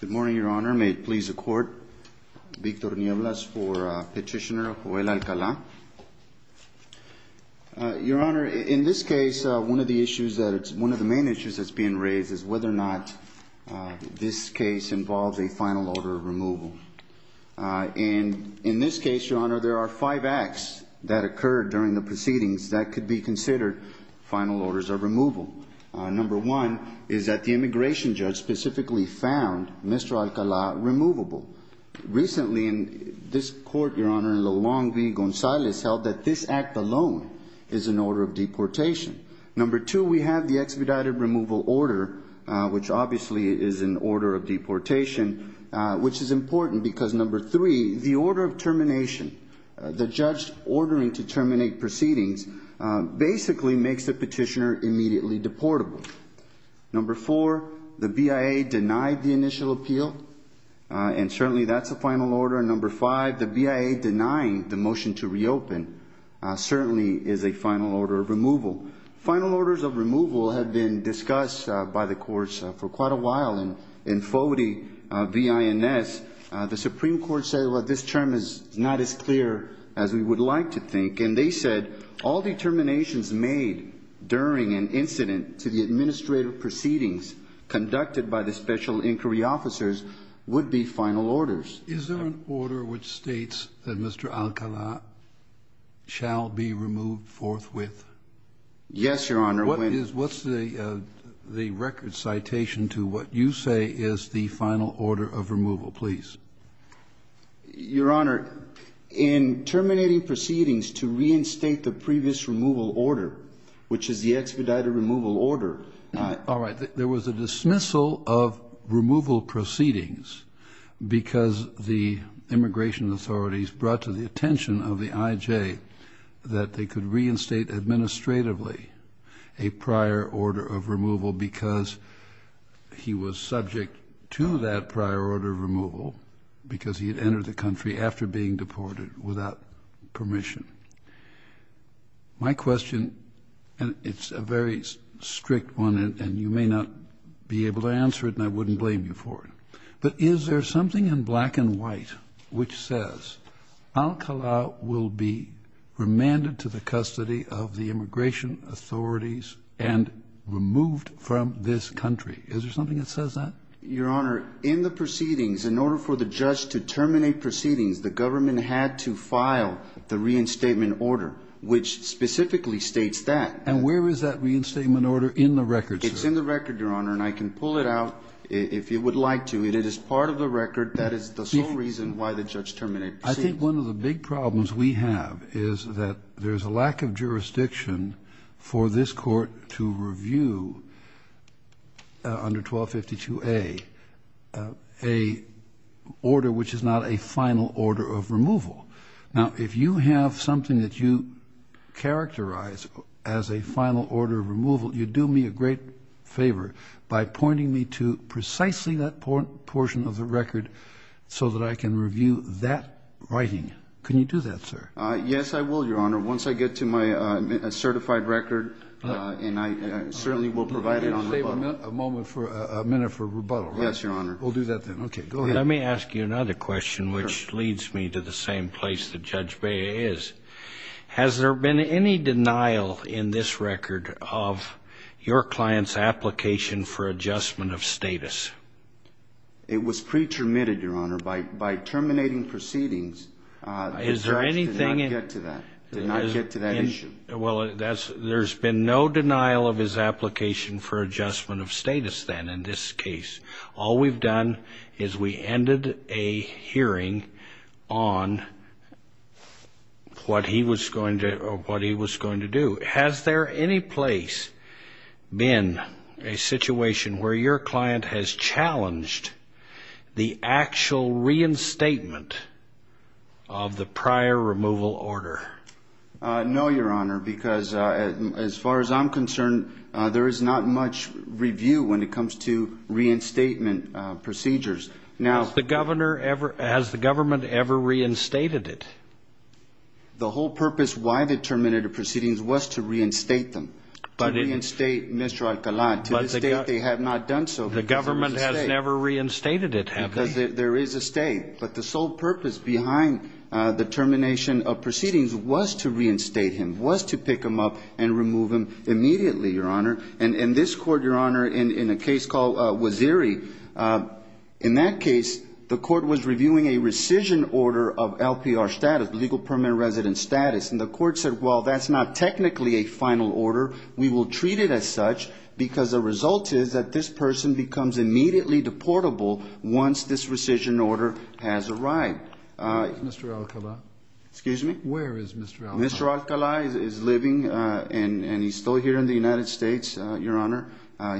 Good morning, Your Honor. May it please the Court, Victor Nieblas for Petitioner Joel Alcala. Your Honor, in this case, one of the main issues that's being raised is whether or not this case involves a final order of removal. And in this case, Your Honor, there are five acts that occurred during the proceedings that could be considered final orders of removal. Number one is that the immigration judge specifically found Mr. Alcala removable. Recently, this Court, Your Honor, in Long V. Gonzalez, held that this act alone is an order of deportation. Number two, we have the expedited removal order, which obviously is an order of deportation, which is important because number three, the order of termination, the judge ordering to terminate proceedings, basically makes the petitioner immediately deportable. Number four, the BIA denied the initial appeal, and certainly that's a final order. And number five, the BIA denying the motion to reopen certainly is a final order of removal. Final orders of removal have been discussed by the courts for quite a while in FOTI v. INS. The Supreme Court said, well, this term is not as clear as we would like to think. And they said all determinations made during an incident to the administrative proceedings conducted by the special inquiry officers would be final orders. Is there an order which states that Mr. Alcala shall be removed forthwith? Yes, Your Honor. What is the record citation to what you say is the final order of removal, please? Your Honor, in terminating proceedings to reinstate the previous removal order, which is the expedited removal order. All right. There was a dismissal of removal proceedings because the immigration authorities brought to the attention of the IJ that they could reinstate administratively a prior order of removal because he was subject to that prior order of removal because he had entered the country after being deported without permission. My question, and it's a very strict one, and you may not be able to answer it, and I wouldn't blame you for it, but is there something in black and white which says Alcala will be remanded to the custody of the immigration authorities and removed from this country? Is there something that says that? Your Honor, in the proceedings, in order for the judge to terminate proceedings, the government had to file the reinstatement order, which specifically states that. And where is that reinstatement order in the record, sir? It's in the record, Your Honor, and I can pull it out if you would like to. It is part of the record. That is the sole reason why the judge terminated proceedings. I think one of the big problems we have is that there's a lack of jurisdiction for this Court to review under 1252A a order which is not a final order of removal. Now, if you have something that you characterize as a final order of removal, you do me a great favor by pointing me to precisely that portion of the record so that I can review that writing. Can you do that, sir? Yes, I will, Your Honor. Once I get to my certified record, and I certainly will provide it on rebuttal. You're going to save a minute for rebuttal, right? Yes, Your Honor. We'll do that then. Okay, go ahead. Let me ask you another question, which leads me to the same place that Judge Bea is. Has there been any denial in this record of your client's application for adjustment of status? It was pre-termitted, Your Honor. By terminating proceedings, the judge did not get to that issue. Well, there's been no denial of his application for adjustment of status then in this case. All we've done is we ended a hearing on what he was going to do. Has there any place been a situation where your client has challenged the actual reinstatement of the prior removal order? No, Your Honor, because as far as I'm concerned, there is not much review when it comes to reinstatement procedures. Has the government ever reinstated it? The whole purpose why they terminated the proceedings was to reinstate them, to reinstate Mr. Alcalan. To this day, they have not done so. The government has never reinstated it, have they? Because there is a stay. But the sole purpose behind the termination of proceedings was to reinstate him, was to pick him up and remove him immediately, Your Honor. And this court, Your Honor, in a case called Waziri, in that case, the court was reviewing a rescission order of LPR status, legal permanent resident status. And the court said, well, that's not technically a final order. We will treat it as such because the result is that this person becomes immediately deportable once this rescission order has arrived. Where is Mr. Alcalan? Excuse me? Where is Mr. Alcalan? Mr. Alcalan is living and he's still here in the United States, Your Honor.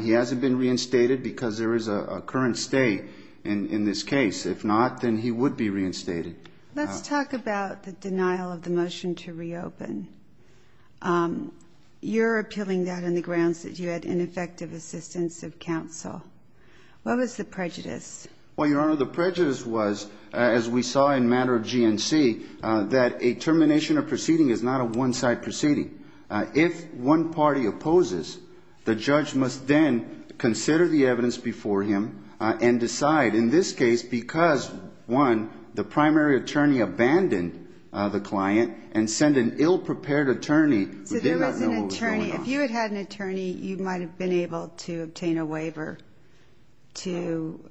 He hasn't been reinstated because there is a current stay in this case. If not, then he would be reinstated. Let's talk about the denial of the motion to reopen. You're appealing that on the grounds that you had ineffective assistance of counsel. What was the prejudice? Well, Your Honor, the prejudice was, as we saw in matter of GNC, that a termination of proceeding is not a one-side proceeding. If one party opposes, the judge must then consider the evidence before him and decide. In this case, because, one, the primary attorney abandoned the client and sent an ill-prepared attorney who did not know what was going on. So there was an attorney. If you had had an attorney, you might have been able to obtain a waiver to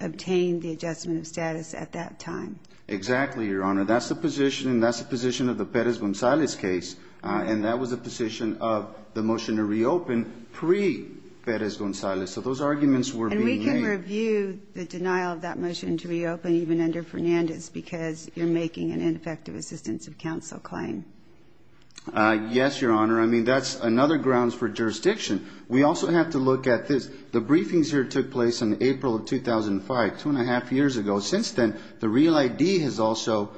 obtain the adjustment of status at that time. Exactly, Your Honor. That's the position, and that's the position of the Perez-Gonzalez case, and that was the position of the motion to reopen pre-Perez-Gonzalez. So those arguments were being made. And we can review the denial of that motion to reopen even under Fernandez because you're making an ineffective assistance of counsel claim. Yes, Your Honor. I mean, that's another grounds for jurisdiction. We also have to look at this. The briefings here took place in April of 2005, two and a half years ago. Since then, the Real ID has also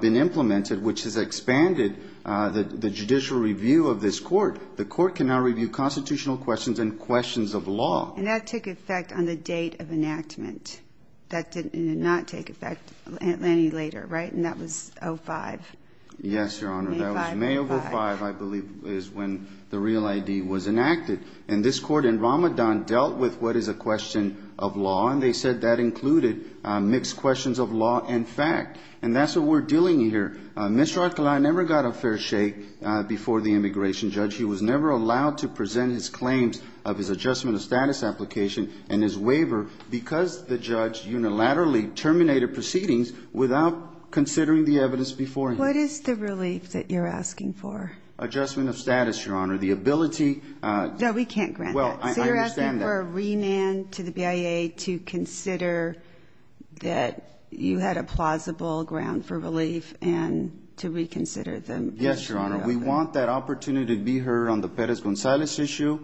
been implemented, which has expanded the judicial review of this court. The court can now review constitutional questions and questions of law. And that took effect on the date of enactment. That did not take effect any later, right? And that was 05. Yes, Your Honor. May 5, 2005. That was May of 05, I believe, is when the Real ID was enacted. And this court in Ramadan dealt with what is a question of law, and they said that included mixed questions of law and fact. And that's what we're dealing here. Mr. Archuleta never got a fair shake before the immigration judge. He was never allowed to present his claims of his adjustment of status application and his waiver because the judge unilaterally terminated proceedings without considering the evidence before him. What is the relief that you're asking for? Adjustment of status, Your Honor. The ability to ‑‑ No, we can't grant that. Well, I understand that. We're asking for a remand to the BIA to consider that you had a plausible ground for relief and to reconsider the issue. Yes, Your Honor. We want that opportunity to be heard on the Perez-Gonzalez issue,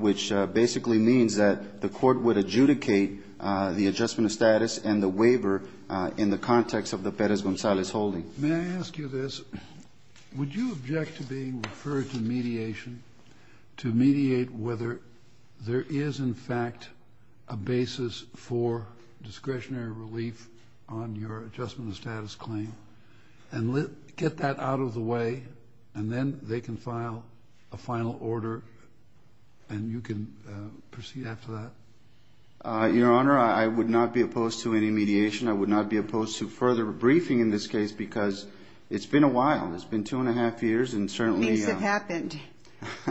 which basically means that the court would adjudicate the adjustment of status and the waiver in the context of the Perez-Gonzalez holding. May I ask you this? Would you object to being referred to mediation to mediate whether there is, in fact, a basis for discretionary relief on your adjustment of status claim? And get that out of the way, and then they can file a final order, and you can proceed after that? Your Honor, I would not be opposed to any mediation. I would not be opposed to further briefing in this case because it's been a while. It's been two and a half years, and certainly ‑‑ Weeks have happened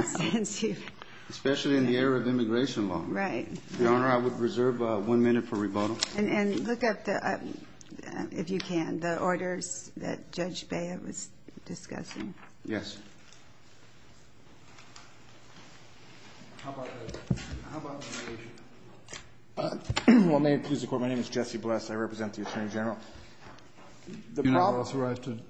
since you've ‑‑ Especially in the era of immigration law. Right. Your Honor, I would reserve one minute for rebuttal. And look up, if you can, the orders that Judge Baya was discussing. Yes. How about mediation? Well, may it please the Court, my name is Jesse Bless. I represent the Attorney General. The problem ‑‑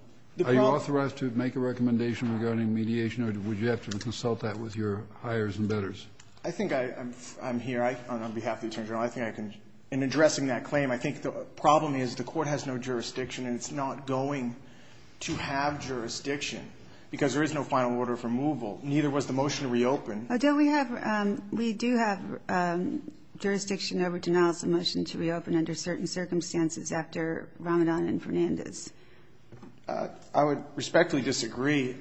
Are you authorized to make a recommendation regarding mediation, or would you have to consult that with your hires and bettors? I think I'm here on behalf of the Attorney General. I think I can ‑‑ in addressing that claim, I think the problem is the Court has no jurisdiction, and it's not going to have jurisdiction because there is no final order of removal. Neither was the motion to reopen. Don't we have ‑‑ we do have jurisdiction over denial of submission to reopen under certain circumstances after Ramadan and Fernandez. I would respectfully disagree.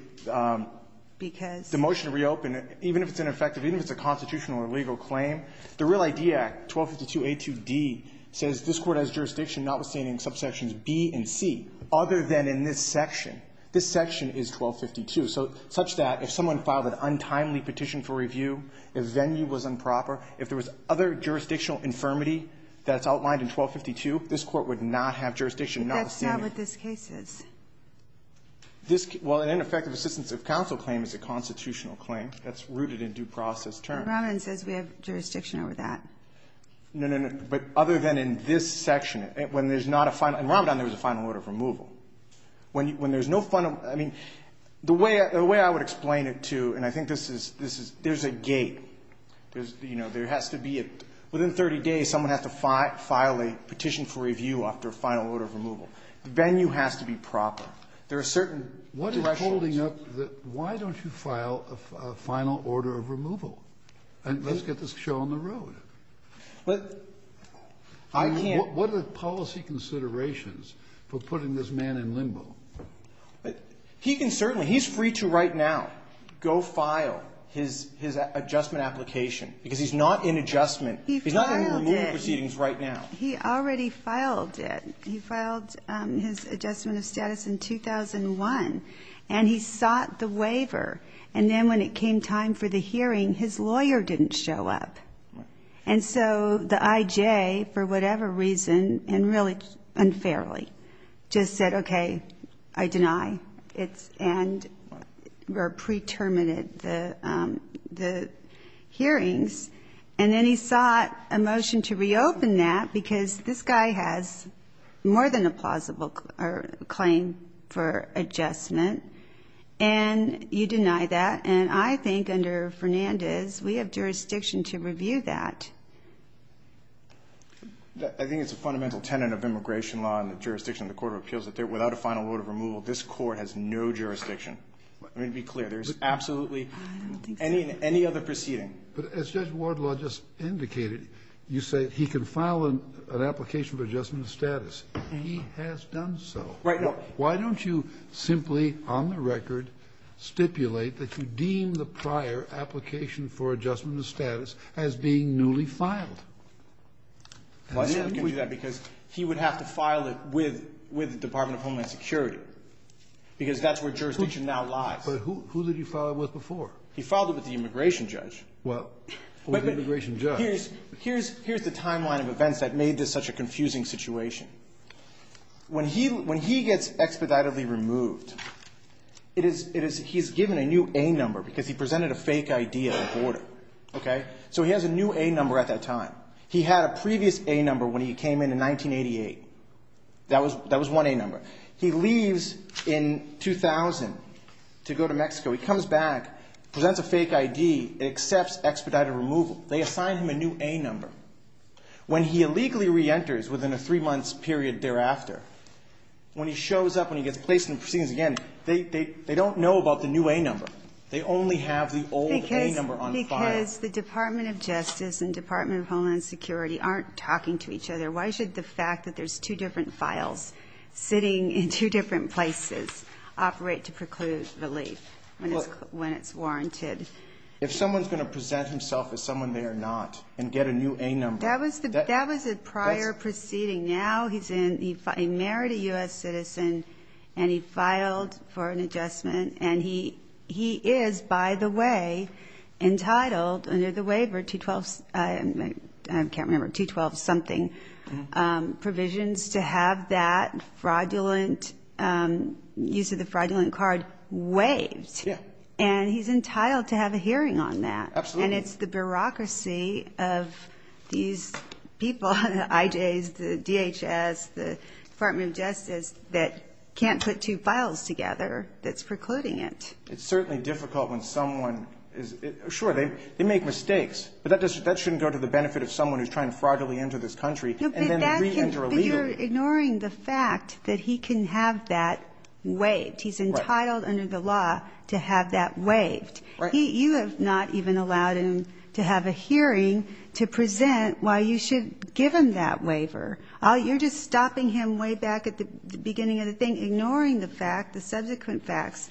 Because ‑‑ The motion to reopen, even if it's ineffective, even if it's a constitutional or legal claim, the Real ID Act, 1252A2D, says this Court has jurisdiction notwithstanding subsections B and C, other than in this section. This section is 1252, such that if someone filed an untimely petition for review, if venue was improper, if there was other jurisdictional infirmity that's outlined in 1252, this Court would not have jurisdiction notwithstanding. But that's not what this case is. Well, an ineffective assistance of counsel claim is a constitutional claim. That's rooted in due process terms. But Ramadan says we have jurisdiction over that. No, no, no. But other than in this section, when there's not a final ‑‑ in Ramadan there was a final order of removal. When there's no final ‑‑ I mean, the way I would explain it to, and I think this is ‑‑ there's a gate. You know, there has to be a ‑‑ within 30 days someone has to file a petition for review after a final order of removal. The venue has to be proper. There are certain ‑‑ What is holding up the ‑‑ why don't you file a final order of removal? And let's get this show on the road. I mean, what are the policy considerations for putting this man in limbo? He can certainly ‑‑ he's free to right now go file his adjustment application, because he's not in adjustment. He's not in removal proceedings right now. He already filed it. He filed his adjustment of status in 2001. And he sought the waiver. And then when it came time for the hearing, his lawyer didn't show up. And so the IJ, for whatever reason, and really unfairly, just said, okay, I deny. And pre‑terminated the hearings. And then he sought a motion to reopen that, because this guy has more than a plausible claim for adjustment. And you deny that. And I think under Fernandez, we have jurisdiction to review that. I think it's a fundamental tenet of immigration law and the jurisdiction of the Court of Appeals that without a final order of removal, this Court has no jurisdiction. Let me be clear. There's absolutely ‑‑ I don't think so. Any other proceeding. But as Judge Wardlaw just indicated, you say he can file an application for adjustment of status. He has done so. Right. Why don't you simply, on the record, stipulate that you deem the prior application for adjustment of status as being newly filed? He would have to file it with the Department of Homeland Security, because that's where jurisdiction now lies. But who did he file it with before? He filed it with the immigration judge. Well, the immigration judge. Here's the timeline of events that made this such a confusing situation. When he gets expeditedly removed, he's given a new A number, because he presented a fake ID at the border. Okay? So he has a new A number at that time. He had a previous A number when he came in in 1988. That was one A number. He leaves in 2000 to go to Mexico. He comes back, presents a fake ID, accepts expedited removal. They assign him a new A number. When he illegally reenters within a three-month period thereafter, when he shows up, when he gets placed in the proceedings again, they don't know about the new A number. They only have the old A number on file. Because the Department of Justice and Department of Homeland Security aren't talking to each other. Why should the fact that there's two different files sitting in two different places operate to preclude relief when it's warranted? If someone's going to present himself as someone they are not and get a new A number. That was a prior proceeding. Now he's in. He married a U.S. citizen, and he filed for an adjustment. And he is, by the way, entitled under the waiver, 212-something, provisions to have that fraudulent, use of the fraudulent card waived. Yeah. And he's entitled to have a hearing on that. Absolutely. And it's the bureaucracy of these people, the IJs, the DHS, the Department of Justice, that can't put two files together that's precluding it. It's certainly difficult when someone is, sure, they make mistakes. But that shouldn't go to the benefit of someone who's trying to fraudulently enter this country and then reenter illegally. But you're ignoring the fact that he can have that waived. He's entitled under the law to have that waived. Right. You have not even allowed him to have a hearing to present why you should give him that waiver. You're just stopping him way back at the beginning of the thing, ignoring the fact, the subsequent facts,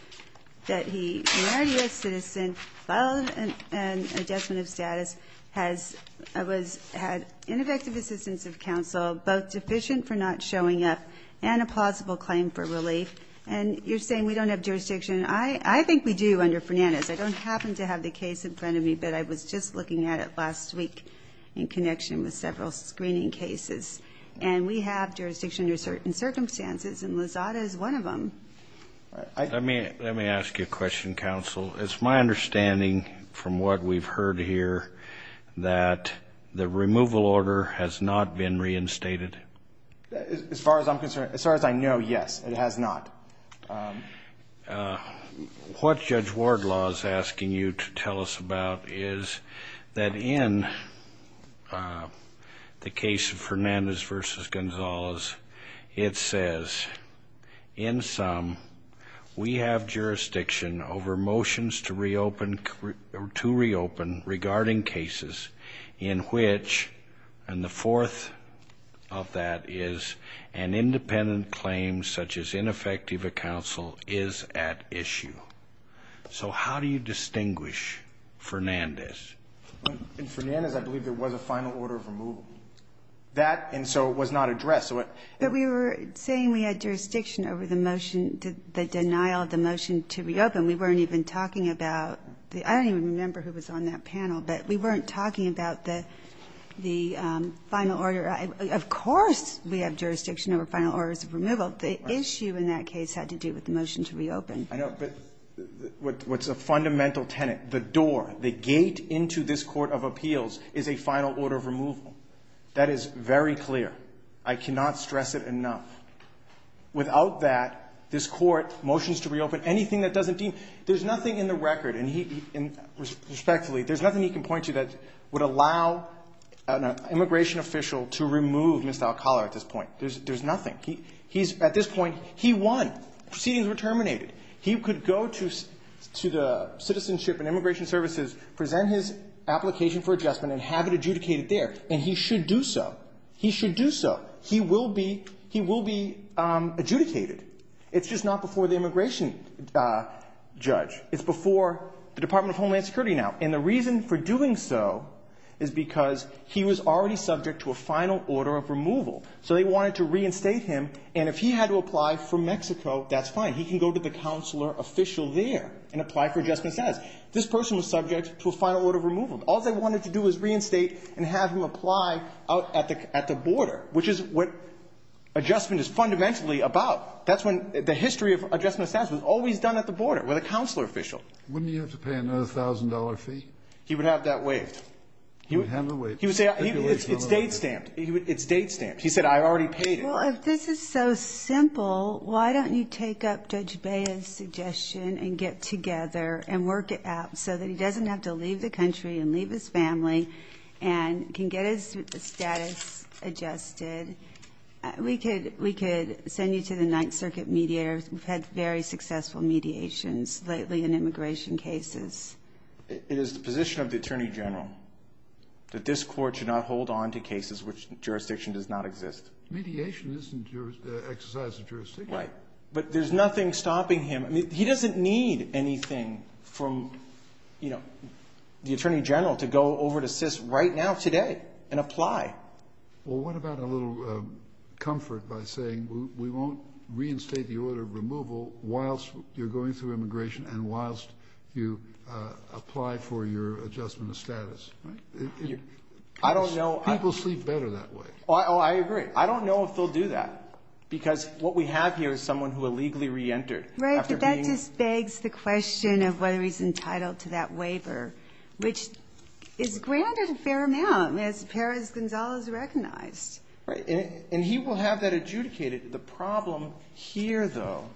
that he married a U.S. citizen, filed an adjustment of status, has had ineffective assistance of counsel, both deficient for not showing up, and a plausible claim for relief. And you're saying we don't have jurisdiction. I think we do under Fernandez. I don't happen to have the case in front of me, but I was just looking at it last week in connection with several screening cases. And we have jurisdiction under certain circumstances, and Lozada is one of them. Let me ask you a question, counsel. It's my understanding from what we've heard here that the removal order has not been reinstated. As far as I'm concerned, as far as I know, yes, it has not. What Judge Wardlaw is asking you to tell us about is that in the case of Fernandez v. Gonzalez, it says, in sum, we have jurisdiction over motions to reopen regarding cases in which, and the fourth of that is, an independent claim such as ineffective counsel is at issue. So how do you distinguish Fernandez? In Fernandez, I believe there was a final order of removal. That, and so it was not addressed. But we were saying we had jurisdiction over the motion, the denial of the motion to reopen. We weren't even talking about the – I don't even remember who was on that panel, but we weren't talking about the final order. Of course we have jurisdiction over final orders of removal. The issue in that case had to do with the motion to reopen. I know, but what's a fundamental tenet, the door, the gate into this court of appeals is a final order of removal. That is very clear. I cannot stress it enough. Without that, this court motions to reopen anything that doesn't deem – there's nothing in the record, and he – respectfully, there's nothing he can point to that would allow an immigration official to remove Mr. Alcala at this point. There's nothing. He's – at this point, he won. Proceedings were terminated. He could go to the Citizenship and Immigration Services, present his application for adjustment, and have it adjudicated there, and he should do so. He should do so. He will be adjudicated. It's just not before the immigration judge. It's before the Department of Homeland Security now. And the reason for doing so is because he was already subject to a final order of removal. So they wanted to reinstate him, and if he had to apply for Mexico, that's fine. He can go to the counselor official there and apply for adjustment status. This person was subject to a final order of removal. All they wanted to do was reinstate and have him apply out at the border, which is what adjustment is fundamentally about. That's when – the history of adjustment status was always done at the border with a counselor official. Wouldn't he have to pay another $1,000 fee? He would have that waived. He would have it waived. He would say it's date-stamped. It's date-stamped. He said, I already paid it. Well, if this is so simple, why don't you take up Judge Baez's suggestion and get together and work it out so that he doesn't have to leave the country and leave his family and can get his status adjusted. We could send you to the Ninth Circuit mediators. We've had very successful mediations lately in immigration cases. It is the position of the Attorney General that this Court should not hold on to cases in which jurisdiction does not exist. Mediation isn't an exercise of jurisdiction. Right. But there's nothing stopping him. He doesn't need anything from the Attorney General to go over to SIS right now today and apply. Well, what about a little comfort by saying we won't reinstate the order of removal whilst you're going through immigration and whilst you apply for your adjustment of status? People sleep better that way. I agree. I don't know if they'll do that because what we have here is someone who illegally reentered Right, but that just begs the question of whether he's entitled to that waiver, which is granted a fair amount as far as Gonzalo is recognized. Right, and he will have that adjudicated. The problem here, though,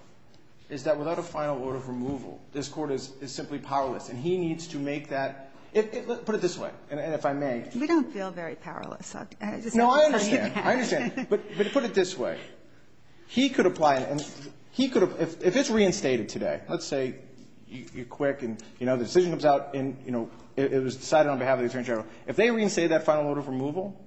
is that without a final order of removal, this Court is simply powerless, and he needs to make that. Put it this way, and if I may. We don't feel very powerless. No, I understand. I understand, but put it this way. If it's reinstated today, let's say you're quick and the decision comes out and it was decided on behalf of the Attorney General, if they reinstate that final order of removal,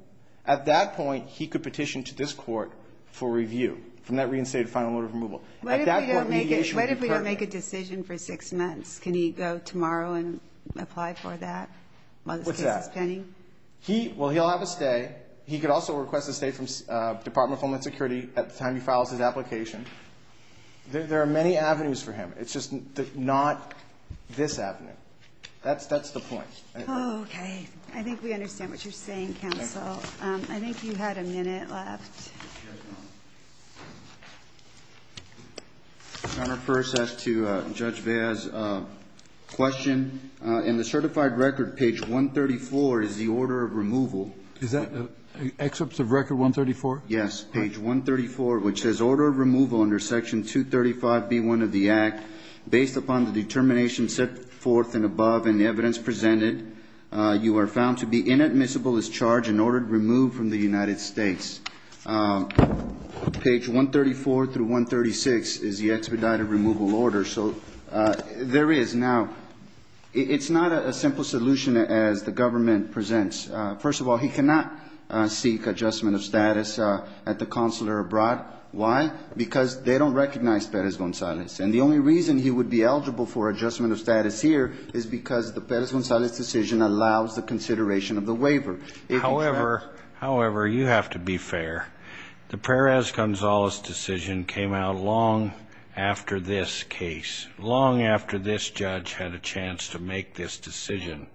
at that point he could petition to this Court for review from that reinstated final order of removal. What if we don't make a decision for six months? Can he go tomorrow and apply for that while this case is pending? What's that? Well, he'll have a stay. He could also request a stay from the Department of Homeland Security at the time he files his application. There are many avenues for him. It's just not this avenue. That's the point. Okay. I think we understand what you're saying, Counsel. I think you had a minute left. Your Honor, first as to Judge Vea's question, in the certified record, page 134 is the order of removal. Is that excerpts of Record 134? Yes. Page 134, which says, Order of Removal under Section 235B1 of the Act. Based upon the determination set forth and above and the evidence presented, you are found to be inadmissible as charged in order to remove from the United States. Page 134 through 136 is the expedited removal order. So there is now ñ it's not a simple solution as the government presents. First of all, he cannot seek adjustment of status at the consular abroad. Why? Because they don't recognize Perez-Gonzalez. And the only reason he would be eligible for adjustment of status here is because the Perez-Gonzalez decision allows the consideration of the waiver. However, you have to be fair. The Perez-Gonzalez decision came out long after this case, long after this judge had a chance to make this decision.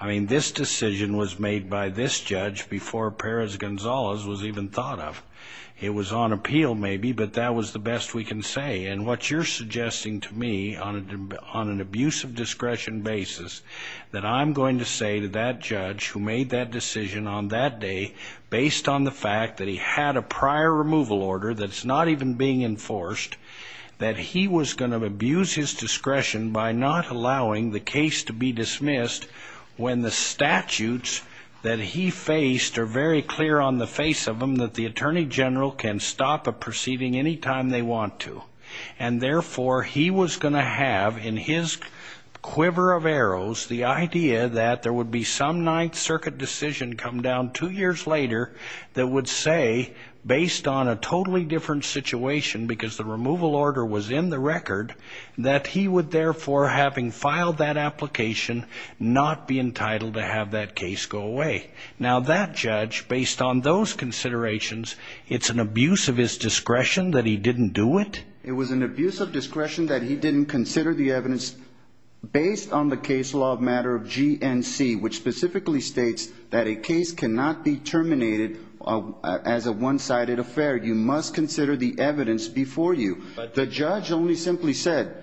I mean, this decision was made by this judge before Perez-Gonzalez was even thought of. It was on appeal, maybe, but that was the best we can say. And what you're suggesting to me on an abuse of discretion basis, that I'm going to say to that judge who made that decision on that day, based on the fact that he had a prior removal order that's not even being enforced, that he was going to abuse his discretion by not allowing the case to be dismissed when the statutes that he faced are very clear on the face of them that the attorney general can stop a proceeding anytime they want to. And therefore, he was going to have, in his quiver of arrows, the idea that there would be some Ninth Circuit decision come down two years later that would say, based on a totally different situation, because the removal order was in the record, that he would therefore, having filed that application, not be entitled to have that case go away. Now, that judge, based on those considerations, it's an abuse of his discretion that he didn't do it? It was an abuse of discretion that he didn't consider the evidence based on the case law of matter of GNC, which specifically states that a case cannot be terminated as a one-sided affair. You must consider the evidence before you. The judge only simply said,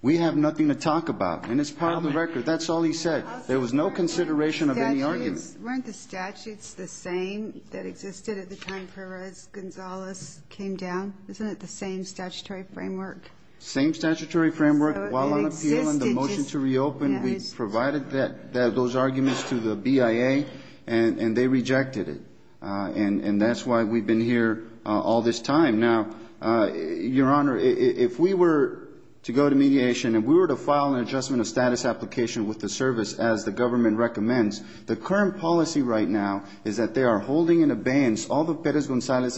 we have nothing to talk about, and it's part of the record. That's all he said. There was no consideration of any argument. Weren't the statutes the same that existed at the time Perez-Gonzalez came down? Isn't it the same statutory framework? Same statutory framework. While on appeal and the motion to reopen, we provided those arguments to the BIA, and they rejected it. And that's why we've been here all this time. Now, Your Honor, if we were to go to mediation and we were to file an adjustment of status application with the service as the government recommends, the current policy right now is that they are holding in abeyance all the Perez-Gonzalez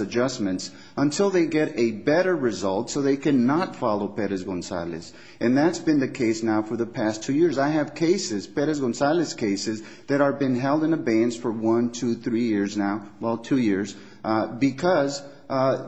And that's been the case now for the past two years. I have cases, Perez-Gonzalez cases, that have been held in abeyance for one, two, three years now, well, two years, because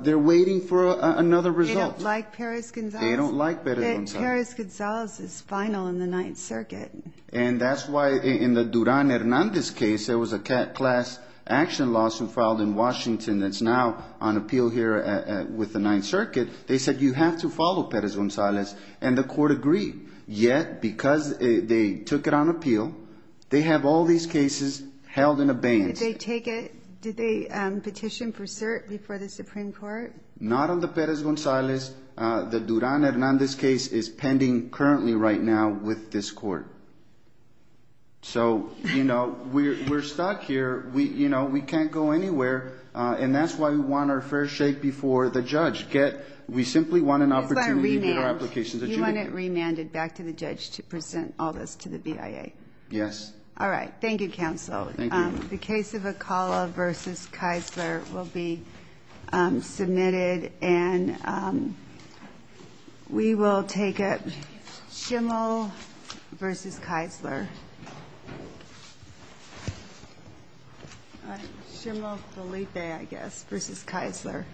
they're waiting for another result. They don't like Perez-Gonzalez? They don't like Perez-Gonzalez. Perez-Gonzalez is final in the Ninth Circuit. And that's why in the Duran-Hernandez case, there was a class action lawsuit filed in Washington that's now on appeal here with the Ninth Circuit. They said, you have to follow Perez-Gonzalez. And the court agreed. Yet, because they took it on appeal, they have all these cases held in abeyance. Did they take it? Did they petition for cert before the Supreme Court? Not on the Perez-Gonzalez. The Duran-Hernandez case is pending currently right now with this court. So, you know, we're stuck here. You know, we can't go anywhere. And that's why we want our fair shake before the judge. We simply want an opportunity for our applications. You want it remanded back to the judge to present all this to the BIA? Yes. All right. Thank you, counsel. Thank you. The case of Acala v. Kisler will be submitted. And we will take it. Schimel v. Kisler. Schimel v. Lippe, I guess, v. Kisler.